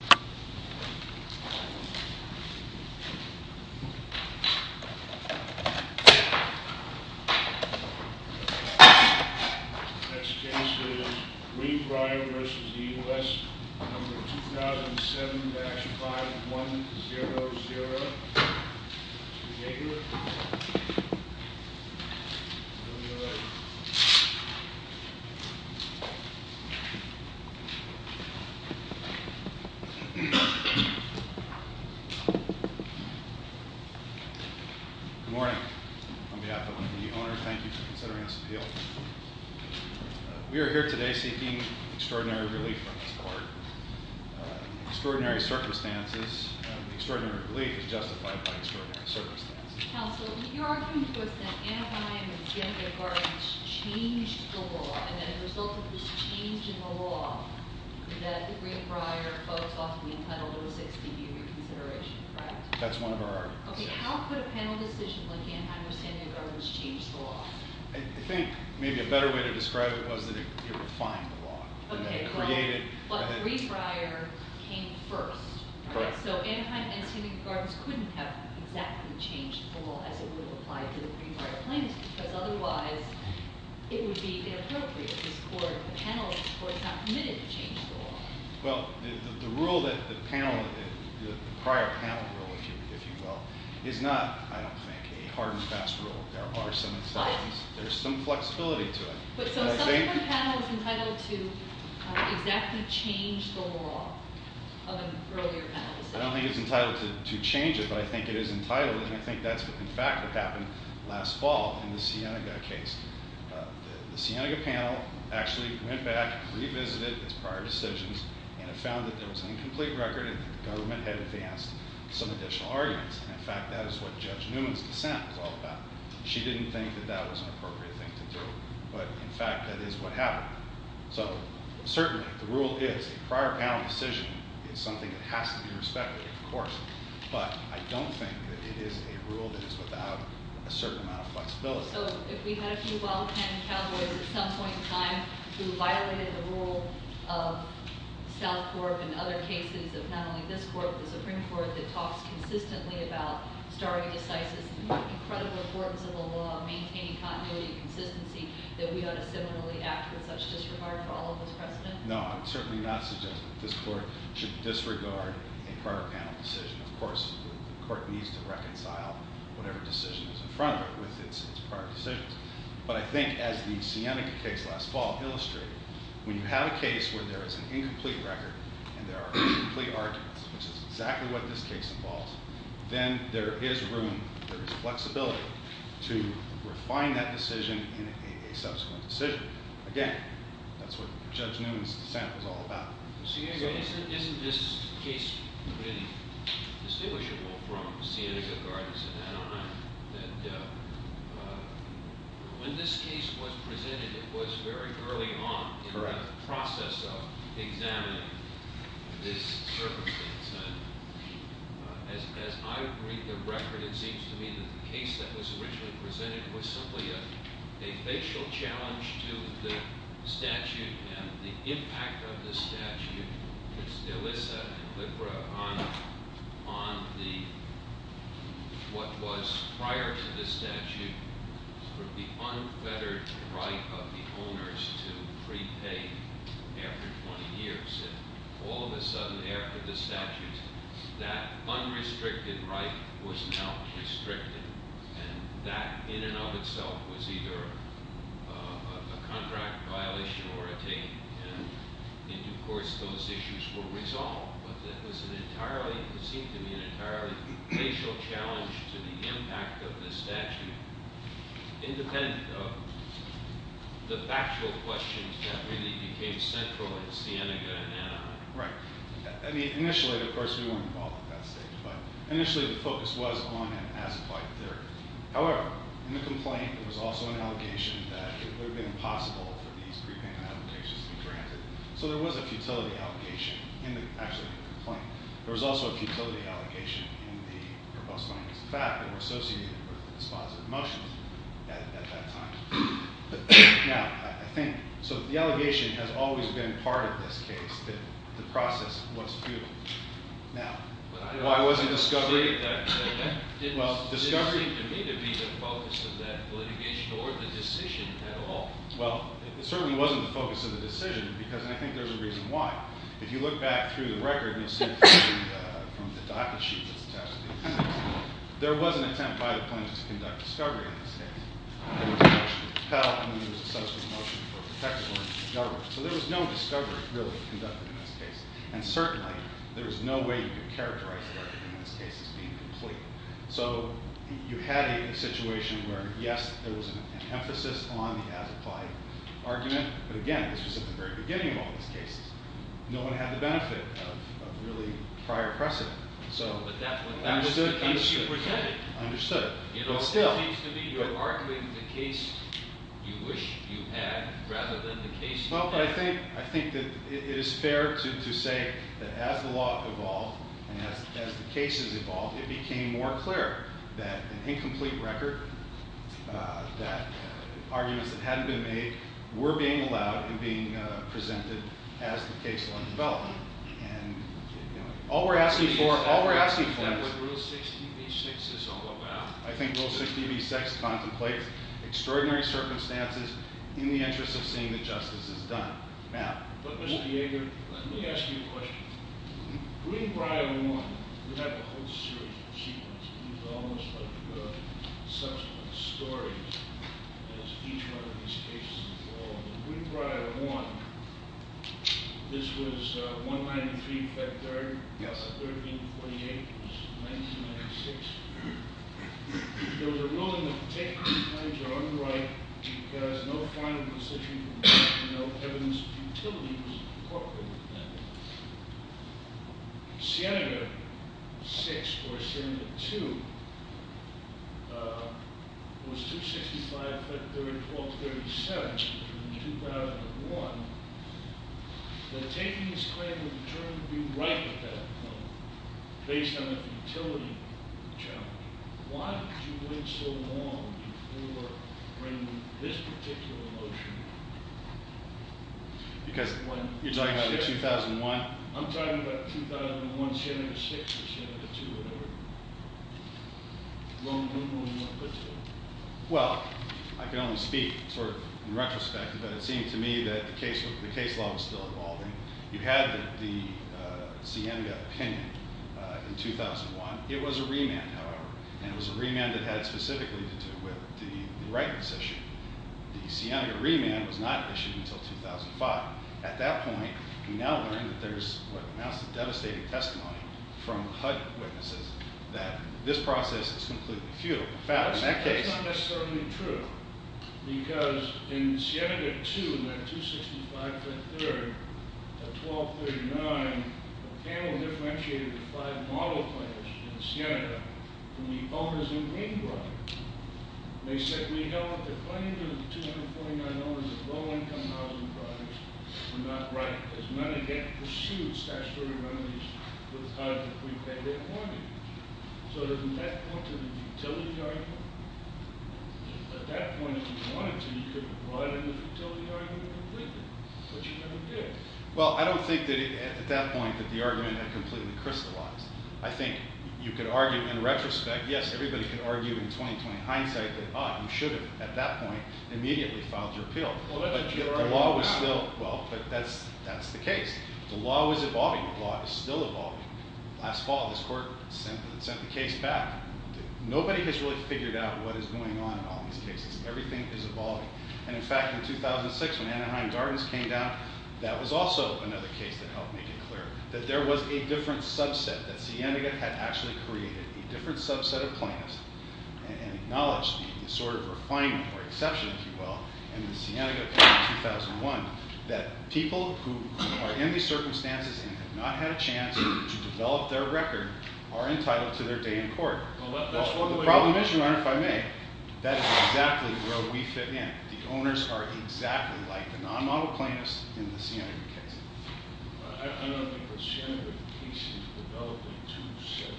Next case is Greenbrier v. U.S., number 2007-5100. Mr. Gager. Good morning. On behalf of the owner, thank you for considering this appeal. We are here today seeking extraordinary relief from this court. Extraordinary circumstances, extraordinary relief is justified by extraordinary circumstances. Mr. Counsel, you're arguing to us that Anaheim and San Diego Gardens changed the law, and that as a result of this change in the law, that the Greenbrier folks ought to be entitled to a 60-year reconsideration, right? That's one of our arguments. Okay, how could a panel decision like Anaheim or San Diego Gardens change the law? I think maybe a better way to describe it was that it refined the law. Okay, but Greenbrier came first. So Anaheim and San Diego Gardens couldn't have exactly changed the law as it would have applied to the Greenbrier plaintiffs, because otherwise it would be inappropriate. This court, the panel, is not committed to change the law. Well, the rule that the panel, the prior panel rule, if you will, is not, I don't think, a hard and fast rule. There are some exceptions. There's some flexibility to it. But so some of the panel is entitled to exactly change the law of an earlier panel decision. I don't think it's entitled to change it, but I think it is entitled, and I think that's in fact what happened last fall in the Sienega case. The Sienega panel actually went back, revisited its prior decisions, and it found that there was an incomplete record and that the government had advanced some additional arguments. In fact, that is what Judge Newman's dissent was all about. She didn't think that that was an appropriate thing to do, but in fact, that is what happened. So certainly the rule is a prior panel decision. It's something that has to be respected, of course, but I don't think that it is a rule that is without a certain amount of flexibility. So if we had a few well-tended cowboys at some point in time who violated the rule of South Corp and other cases of not only this court but the Supreme Court that talks consistently about stare decisis and the incredible importance of the law, maintaining continuity and consistency, that we ought to similarly act with such disregard for all of those precedents? No, I'm certainly not suggesting that this court should disregard a prior panel decision. Of course, the court needs to reconcile whatever decision is in front of it with its prior decisions. But I think as the Sienega case last fall illustrated, when you have a case where there is an incomplete record and there are incomplete arguments, which is exactly what this case involves, then there is room, there is flexibility to refine that decision in a subsequent decision. But again, that's what Judge Newman's dissent was all about. Isn't this case pretty distinguishable from Sienega Gardens and Adonai? When this case was presented, it was very early on in the process of examining this circumstance. As I read the record, it seems to me that the case that was originally presented was simply a facial challenge to the statute and the impact of the statute, Elissa and Libra, on what was prior to this statute, the unfettered right of the owners to prepay after 20 years. And all of a sudden, after the statute, that unrestricted right was now restricted. And that, in and of itself, was either a contract violation or a taint. And in due course, those issues were resolved. But it was an entirely, it seemed to me, an entirely facial challenge to the impact of the statute, independent of the factual questions that really became central in Sienega and Adonai. Right. I mean, initially, of course, we weren't involved at that stage. But initially, the focus was on an as-applied theory. However, in the complaint, there was also an allegation that it would have been impossible for these prepayment applications to be granted. So there was a futility allegation in the actual complaint. There was also a futility allegation in the robust findings. In fact, they were associated with dispositive motions at that time. Now, I think, so the allegation has always been part of this case that the process was futile. Now, why wasn't discovery? Well, discovery. It didn't seem to me to be the focus of that litigation or the decision at all. Well, it certainly wasn't the focus of the decision, because I think there's a reason why. If you look back through the record, you'll see from the docket sheet that's attached to these cases, there was an attempt by the plaintiffs to conduct discovery in this case. There was a motion to propel, and then there was a subsequent motion for protection of the government. So there was no discovery, really, conducted in this case. And certainly, there was no way you could characterize the argument in this case as being complete. So you had a situation where, yes, there was an emphasis on the as-applied argument. But again, this was at the very beginning of all these cases. No one had the benefit of really prior precedent. So understood. Understood. But still. You know, it seems to me you're arguing the case you wish you had rather than the case you had. Well, I think that it is fair to say that as the law evolved and as the cases evolved, it became more clear that an incomplete record, that arguments that hadn't been made, were being allowed and being presented as the case went about. And all we're asking for, all we're asking for is- Is that what Rule 60b-6 is all about? I think Rule 60b-6 contemplates extraordinary circumstances in the interest of seeing that justice is done. But, Mr. Yeager, let me ask you a question. Greenbriar 1, we have a whole series of achievements. These are almost like subsequent stories as each one of these cases evolved. In Greenbriar 1, this was 193, in fact, 13-48 was 1996. There was a ruling that the taken claims are unripe because no final decision was made and no evidence of utility was incorporated in that ruling. In Siena 6, or Siena 2, it was 265-1237, which was in 2001, that taking this claim was determined to be ripe at that point, based on a utility challenge. Why did you wait so long before bringing this particular motion? Because you're talking about the 2001- I'm talking about 2001, Siena 6, or Siena 2, or whatever. Well, I can only speak sort of in retrospect, but it seemed to me that the case law was still evolving. You had the Siena opinion in 2001. It was a remand, however, and it was a remand that had specifically to do with the ripeness issue. The Siena remand was not issued until 2005. At that point, we now learned that there's what amounts to devastating testimony from HUD witnesses that this process is completely futile. That's not necessarily true, because in Siena 2, 265-1239, the panel differentiated the five model players in Siena from the owners in Greenbrook. They said, we know that the claim of $249 of low-income housing projects were not ripe, because none of them pursued statutory remedies with HUD if we pay their mortgage. So didn't that point to the futility argument? At that point, if you wanted to, you could have brought in the futility argument completely, but you never did. Well, I don't think that at that point that the argument had completely crystallized. I think you could argue, in retrospect, yes, everybody could argue in 20-20 hindsight that, ah, you should have, at that point, immediately filed your appeal. Well, that's what you're arguing now. Well, but that's the case. The law was evolving. The law is still evolving. Last fall, this court sent the case back. Nobody has really figured out what is going on in all these cases. Everything is evolving. And, in fact, in 2006, when Anaheim Gardens came down, that was also another case that helped make it clear that there was a different subset, that Siena had actually created a different subset of plaintiffs and acknowledged the sort of refinement or exception, if you will, in the Siena case in 2001, that people who are in these circumstances and have not had a chance to develop their record are entitled to their day in court. The problem is, Your Honor, if I may, that is exactly where we fit in. The owners are exactly like the non-model plaintiffs in the Siena case. I don't think the Siena case developed a two-set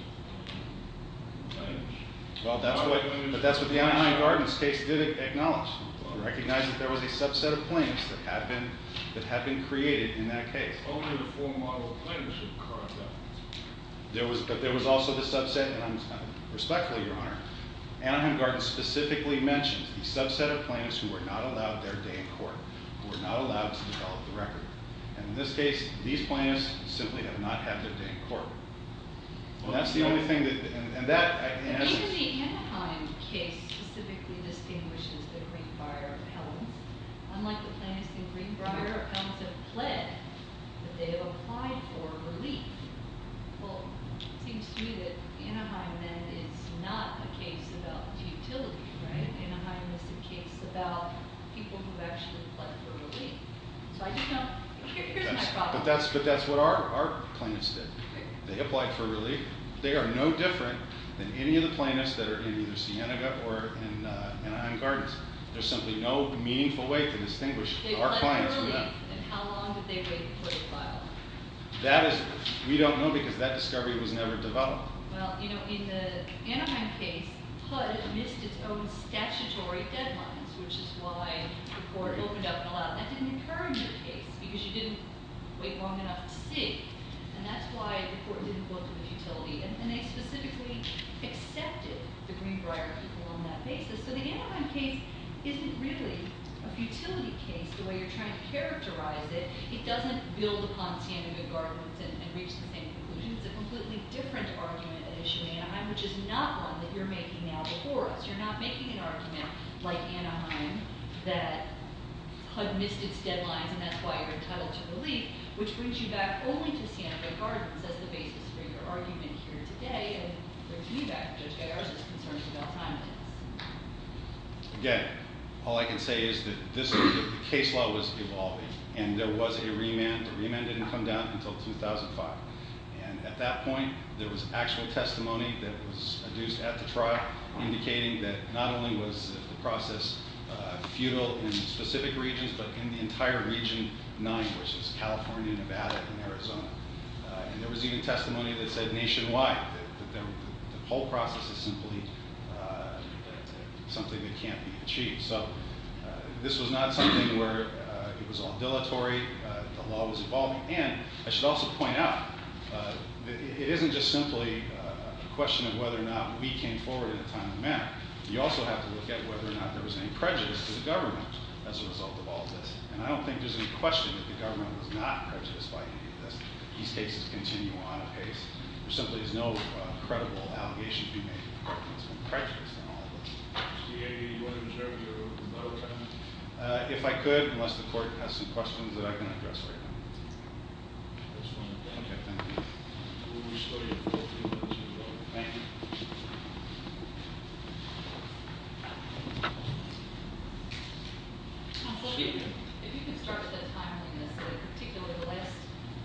of plaintiffs. Well, that's what the Anaheim Gardens case did acknowledge. It recognized that there was a subset of plaintiffs that had been created in that case. Only the four-model plaintiffs would carve that. But there was also the subset, and respectfully, Your Honor, Anaheim Gardens specifically mentioned the subset of plaintiffs who were not allowed their day in court, who were not allowed to develop the record. And in this case, these plaintiffs simply did not have their day in court. Well, that's the only thing that... Maybe the Anaheim case specifically distinguishes the Greenbrier appellants. Unlike the plaintiffs in Greenbrier, appellants have pled that they have applied for relief. Well, it seems to me that Anaheim, then, is not a case about utility, right? Anaheim is a case about people who have actually pled for relief. So I just don't... here's my problem. But that's what our plaintiffs did. They applied for relief. They are no different than any of the plaintiffs that are in either Cienega or in Anaheim Gardens. There's simply no meaningful way to distinguish our clients from that. They pled for relief, and how long did they wait for the file? That is... we don't know, because that discovery was never developed. Well, you know, in the Anaheim case, HUD missed its own statutory deadlines, which is why the court opened up and allowed it. And that's why the court didn't go to a futility, and they specifically accepted the Greenbrier people on that basis. So the Anaheim case isn't really a futility case, the way you're trying to characterize it. It doesn't build upon Cienega Gardens and reach the same conclusion. It's a completely different argument at issue in Anaheim, which is not one that you're making now before us. You're not making an argument like Anaheim that HUD missed its deadlines, and that's why you're entitled to relief, which brings you back only to Cienega Gardens as the basis for your argument here today, and brings me back to Judge Gajar's concerns about time limits. Again, all I can say is that this case law was evolving, and there was a remand. The remand didn't come down until 2005. And at that point, there was actual testimony that was adduced at the trial indicating that not only was the process futile in specific regions, but in the entire Region 9, which is California, Nevada, and Arizona. And there was even testimony that said nationwide that the whole process is simply something that can't be achieved. So this was not something where it was ambulatory. The law was evolving. And I should also point out, it isn't just simply a question of whether or not we came forward in a timely manner. You also have to look at whether or not there was any prejudice to the government as a result of all of this. And I don't think there's any question that the government was not prejudiced by any of this. These cases continue on apace. There simply is no credible allegation to be made that the government's been prejudiced in all of this. Do you have any words there for your fellow attorney? If I could, unless the Court has some questions that I can address right now. That's fine. Thank you. Okay, thank you. Thank you. Counselor, if you could start with the timeliness, particularly the last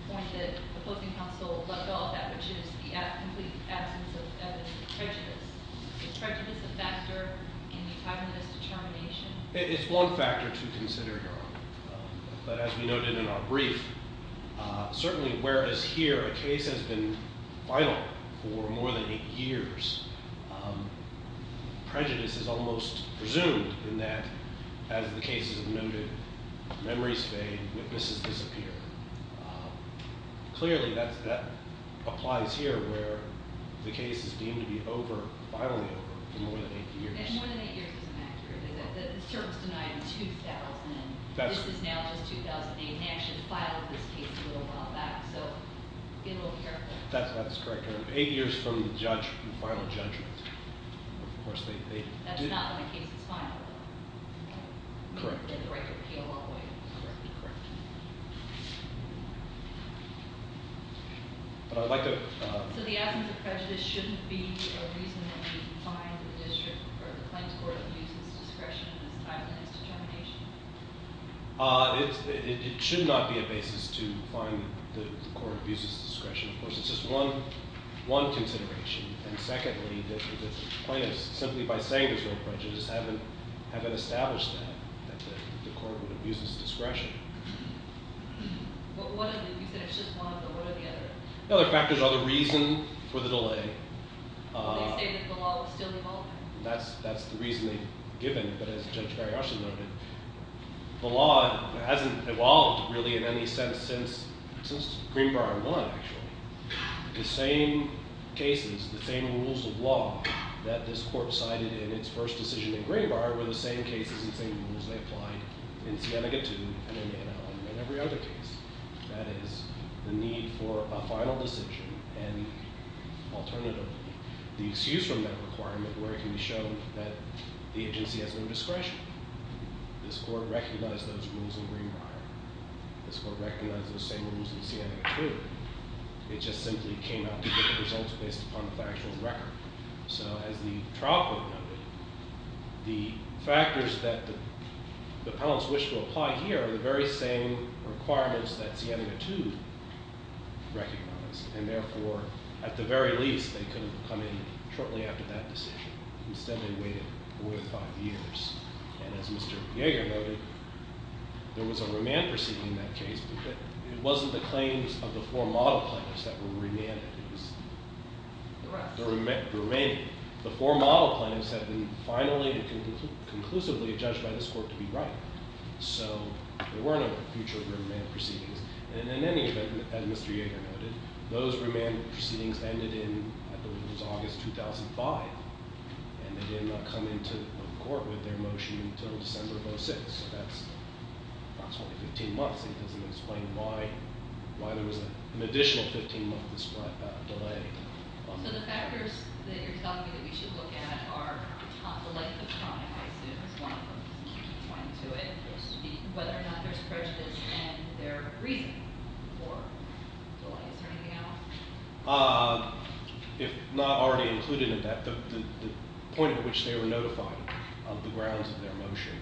point that the opposing counsel left off at, which is the complete absence of evidence of prejudice. Is prejudice a factor in the timeless determination? It's one factor to consider, Your Honor. But as we noted in our brief, certainly whereas here a case has been vital for more than eight years, prejudice is almost presumed in that, as the cases have noted, memories fade, witnesses disappear. Clearly, that applies here where the case is deemed to be over, finally over, for more than eight years. And more than eight years is inaccurate. The cert is denied in 2000, and this is now just 2008. They actually filed this case a little while back, so be a little careful. That's correct, Your Honor. Eight years from the final judgment. That's not when the case is final. Correct. So the absence of prejudice shouldn't be a reason that we find the district, or the claims court abuses discretion in this timeless determination? It should not be a basis to find the court abuses discretion. Of course, it's just one consideration. And secondly, the plaintiffs, simply by saying there's no prejudice, haven't established that, that the court would abuse its discretion. You said it's just one, but what are the other factors? The other factors are the reason for the delay. Are they saying that the law is still evolving? That's the reason they've given, but as Judge Barry-Austin noted, the law hasn't evolved, really, in any sense since Greenbar won, actually. The same cases, the same rules of law that this court cited in its first decision in Greenbar were the same cases and same rules they applied in Sienega II and in every other case. That is, the need for a final decision and, alternatively, the excuse from that requirement where it can be shown that the agency has no discretion. This court recognized those rules in Greenbar. This court recognized those same rules in Sienega II. It just simply came out to be the results based upon the factual record. So, as the trial court noted, the factors that the appellants wished to apply here are the very same requirements that Sienega II recognized. And, therefore, at the very least, they could have come in shortly after that decision. Instead, they waited four to five years. And, as Mr. Yeager noted, there was a remand proceeding in that case, but it wasn't the claims of the four model plaintiffs that were remanded. It was the remaining. The four model plaintiffs had been finally and conclusively judged by this court to be right. So, there were no future remand proceedings. And, in any event, as Mr. Yeager noted, those remand proceedings ended in, I believe it was August 2005. And, they did not come into court with their motion until December of 2006. So, that's approximately 15 months. It doesn't explain why there was an additional 15 months of delay. So, the factors that you're telling me that we should look at are the length of time, I assume, as one of them is pointing to it. Whether or not there's prejudice in their reasoning for delay. Is there anything else? If not already included in that, the point at which they were notified of the grounds of their motion.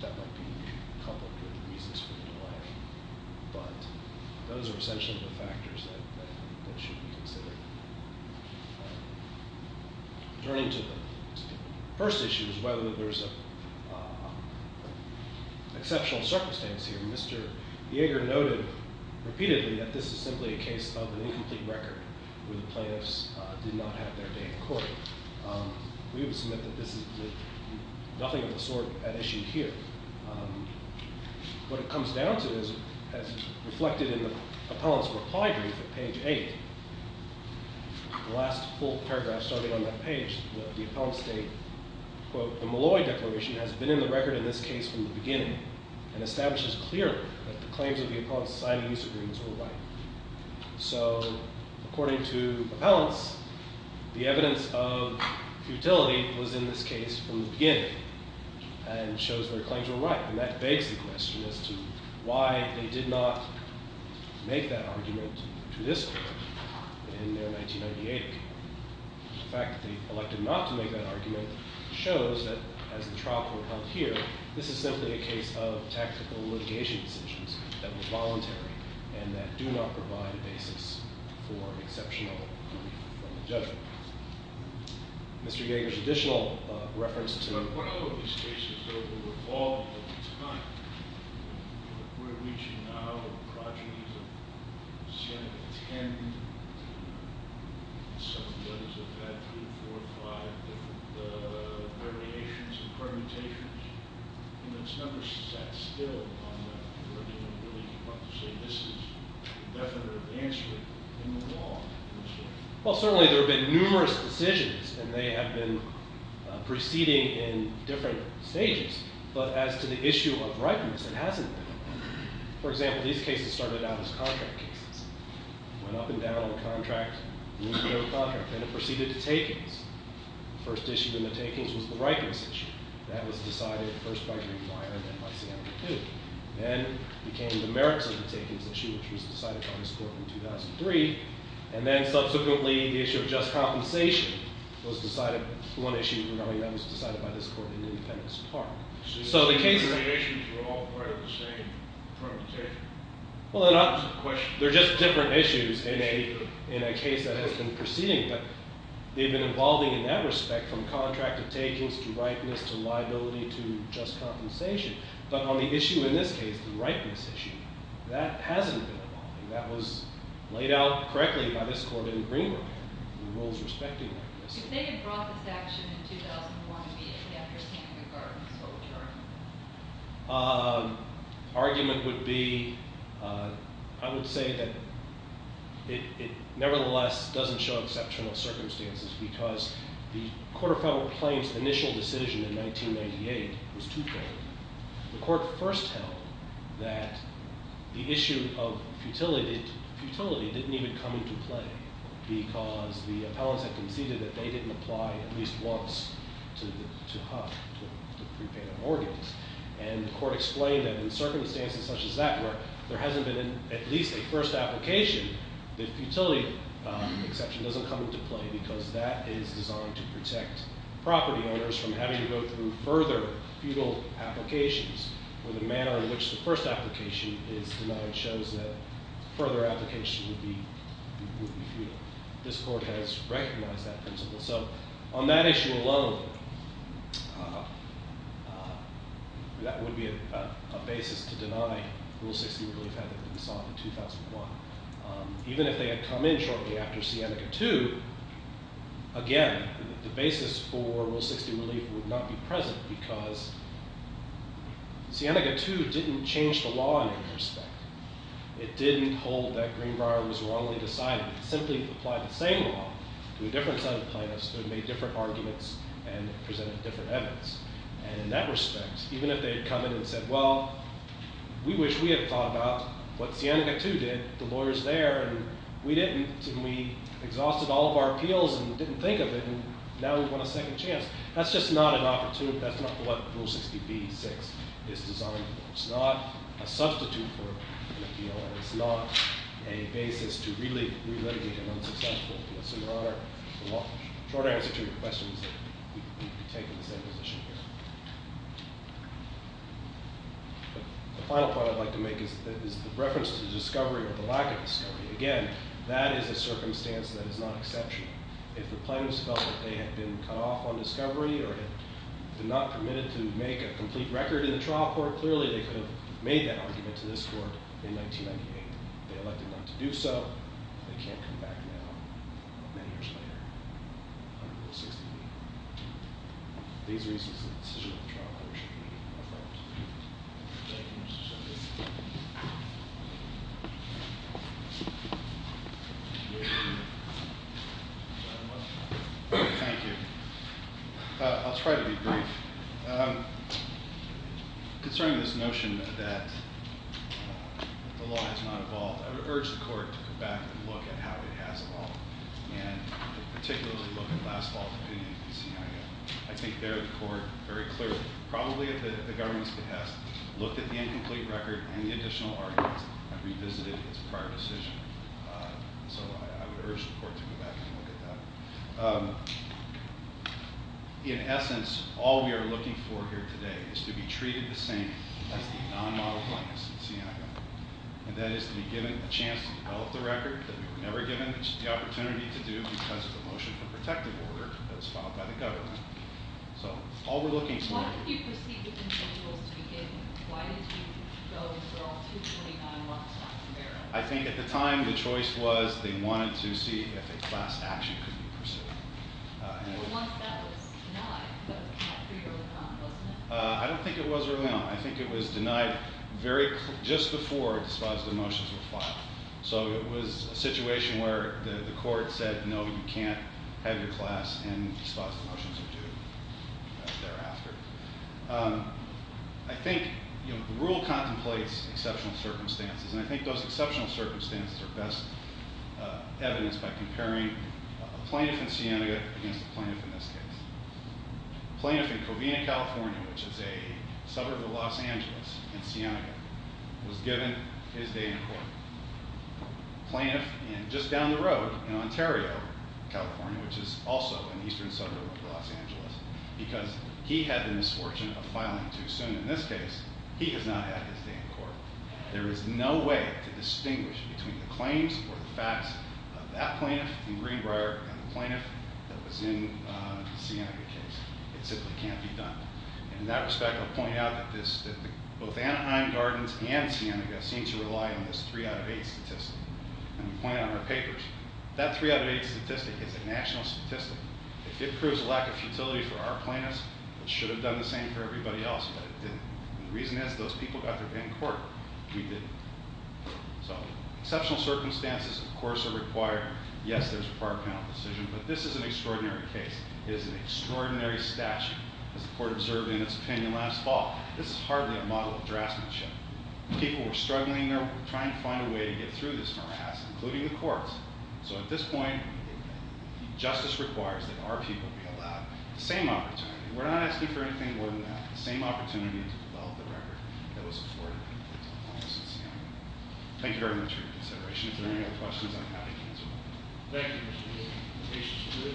That might be a couple of good reasons for delay. But, those are essentially the factors that should be considered. Turning to the first issue is whether there's an exceptional circumstance here. As Mr. Yeager noted repeatedly, that this is simply a case of an incomplete record where the plaintiffs did not have their day in court. We would submit that this is nothing of the sort at issue here. What it comes down to is, as reflected in the appellant's reply brief at page 8, the last full paragraph starting on that page, the appellant states, quote, the Malloy declaration has been in the record in this case from the beginning and establishes clearly that the claims of the appellant's society use agreements were right. So, according to the appellants, the evidence of futility was in this case from the beginning and shows their claims were right. And that begs the question as to why they did not make that argument to this court in their 1998 agreement. The fact that they elected not to make that argument shows that, as the trial court held here, this is simply a case of tactical litigation decisions that were voluntary and that do not provide a basis for exceptional judgment. Mr. Yeager's additional reference to- We're reaching now the progenies of seven, ten, some of those have had three, four, five different variations and permutations. And it's never sat still on that argument, really. You want to say this is a definitive answer in the law. Well, certainly there have been numerous decisions, and they have been proceeding in different stages. But as to the issue of rightness, it hasn't been. For example, these cases started out as contract cases. Went up and down on the contract, losing no contract. Then it proceeded to takings. The first issue in the takings was the rightness issue. That was decided first by Greenwine and then by Siena II. Then came the merits of the takings issue, which was decided by this court in 2003. And then, subsequently, the issue of just compensation was decided- So the cases- The variations were all part of the same permutation. Well, they're not- It's a question. They're just different issues in a case that has been proceeding. But they've been evolving in that respect from contract to takings to rightness to liability to just compensation. But on the issue in this case, the rightness issue, that hasn't been evolving. That was laid out correctly by this court in Greenwine, the rules respecting rightness. If they had brought this action in 2001 immediately after Seneca Gardens, what would the argument be? The argument would be- I would say that it nevertheless doesn't show exceptional circumstances because the Court of Federal Claims' initial decision in 1998 was twofold. The court first held that the issue of futility didn't even come into play because the appellants had conceded that they didn't apply at least once to prepayment of organs. And the court explained that in circumstances such as that, where there hasn't been at least a first application, the futility exception doesn't come into play because that is designed to protect property owners from having to go through further futile applications where the manner in which the first application is denied shows that further applications would be futile. This court has recognized that principle. So on that issue alone, that would be a basis to deny Rule 60 Relief had that been sought in 2001. Even if they had come in shortly after Seneca II, again, the basis for Rule 60 Relief would not be present because Seneca II didn't change the law in any respect. It didn't hold that Greenbrier was wrongly decided. It simply applied the same law to a different set of plaintiffs who had made different arguments and presented different evidence. And in that respect, even if they had come in and said, well, we wish we had thought about what Seneca II did, the lawyer's there, and we didn't, and we exhausted all of our appeals and didn't think of it, and now we want a second chance. That's just not an opportunity. That's not what Rule 60b-6 is designed for. It's not a substitute for an appeal, and it's not a basis to really relitigate an unsuccessful case. In your honor, the short answer to your question is that we take the same position here. The final point I'd like to make is the reference to the discovery or the lack of discovery. Again, that is a circumstance that is not exceptional. If the plaintiffs felt that they had been cut off on discovery or had been not permitted to make a complete record in the trial court, clearly they could have made that argument to this court in 1998. They elected not to do so. They can't come back now, many years later, under Rule 60b. These reasons and the decision of the trial court should be referred to. Thank you. I'll try to be brief. Concerning this notion that the law has not evolved, I would urge the court to go back and look at how it has evolved, and particularly look at last fall's opinion and see how you go. I think there the court very clearly, probably at the government's behest, looked at the incomplete record and the additional arguments and revisited its prior decision. So I would urge the court to go back and look at that. In essence, all we are looking for here today is to be treated the same as the non-model plaintiffs in Siena, and that is to be given a chance to develop the record that we were never given the opportunity to do because of the motion of protective order that was filed by the government. So all we're looking for— Why did you proceed with individuals to be given? Why did you go and throw 229 rocks off the barrel? I think at the time the choice was they wanted to see if a class action could be pursued. But once that was denied, that was not pretty early on, wasn't it? I don't think it was early on. I think it was denied just before dispositive motions were filed. So it was a situation where the court said, no, you can't have your class in dispositive motions or do it thereafter. I think the rule contemplates exceptional circumstances, and I think those exceptional circumstances are best evidenced by comparing a plaintiff in Siena against a plaintiff in this case. A plaintiff in Covina, California, which is a suburb of Los Angeles in Siena, was given his day in court. A plaintiff just down the road in Ontario, California, which is also an eastern suburb of Los Angeles, because he had the misfortune of filing too soon in this case, he has not had his day in court. There is no way to distinguish between the claims or the facts of that plaintiff in Greenbrier and the plaintiff that was in the Siena case. It simply can't be done. In that respect, I'll point out that both Anaheim Gardens and Siena seem to rely on this 3 out of 8 statistic. And we point it out in our papers. That 3 out of 8 statistic is a national statistic. If it proves a lack of futility for our plaintiffs, it should have done the same for everybody else, but it didn't. The reason is, those people got their day in court. We didn't. So, exceptional circumstances, of course, are required. Yes, there's a prior panel decision, but this is an extraordinary case. It is an extraordinary statute. As the court observed in its opinion last fall, this is hardly a model of draftsmanship. People were struggling. They're trying to find a way to get through this morass, including the courts. So at this point, justice requires that our people be allowed the same opportunity. We're not asking for anything more than that. The same opportunity to develop the record that was afforded to the plaintiffs in Siena. Thank you very much for your consideration. If there are any other questions, I'm happy to answer them. Thank you, Mr. Daly. Patience is good.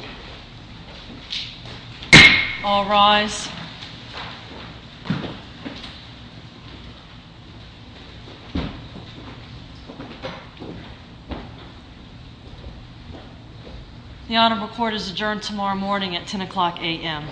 All rise. The Honorable Court is adjourned tomorrow morning at 10 o'clock a.m.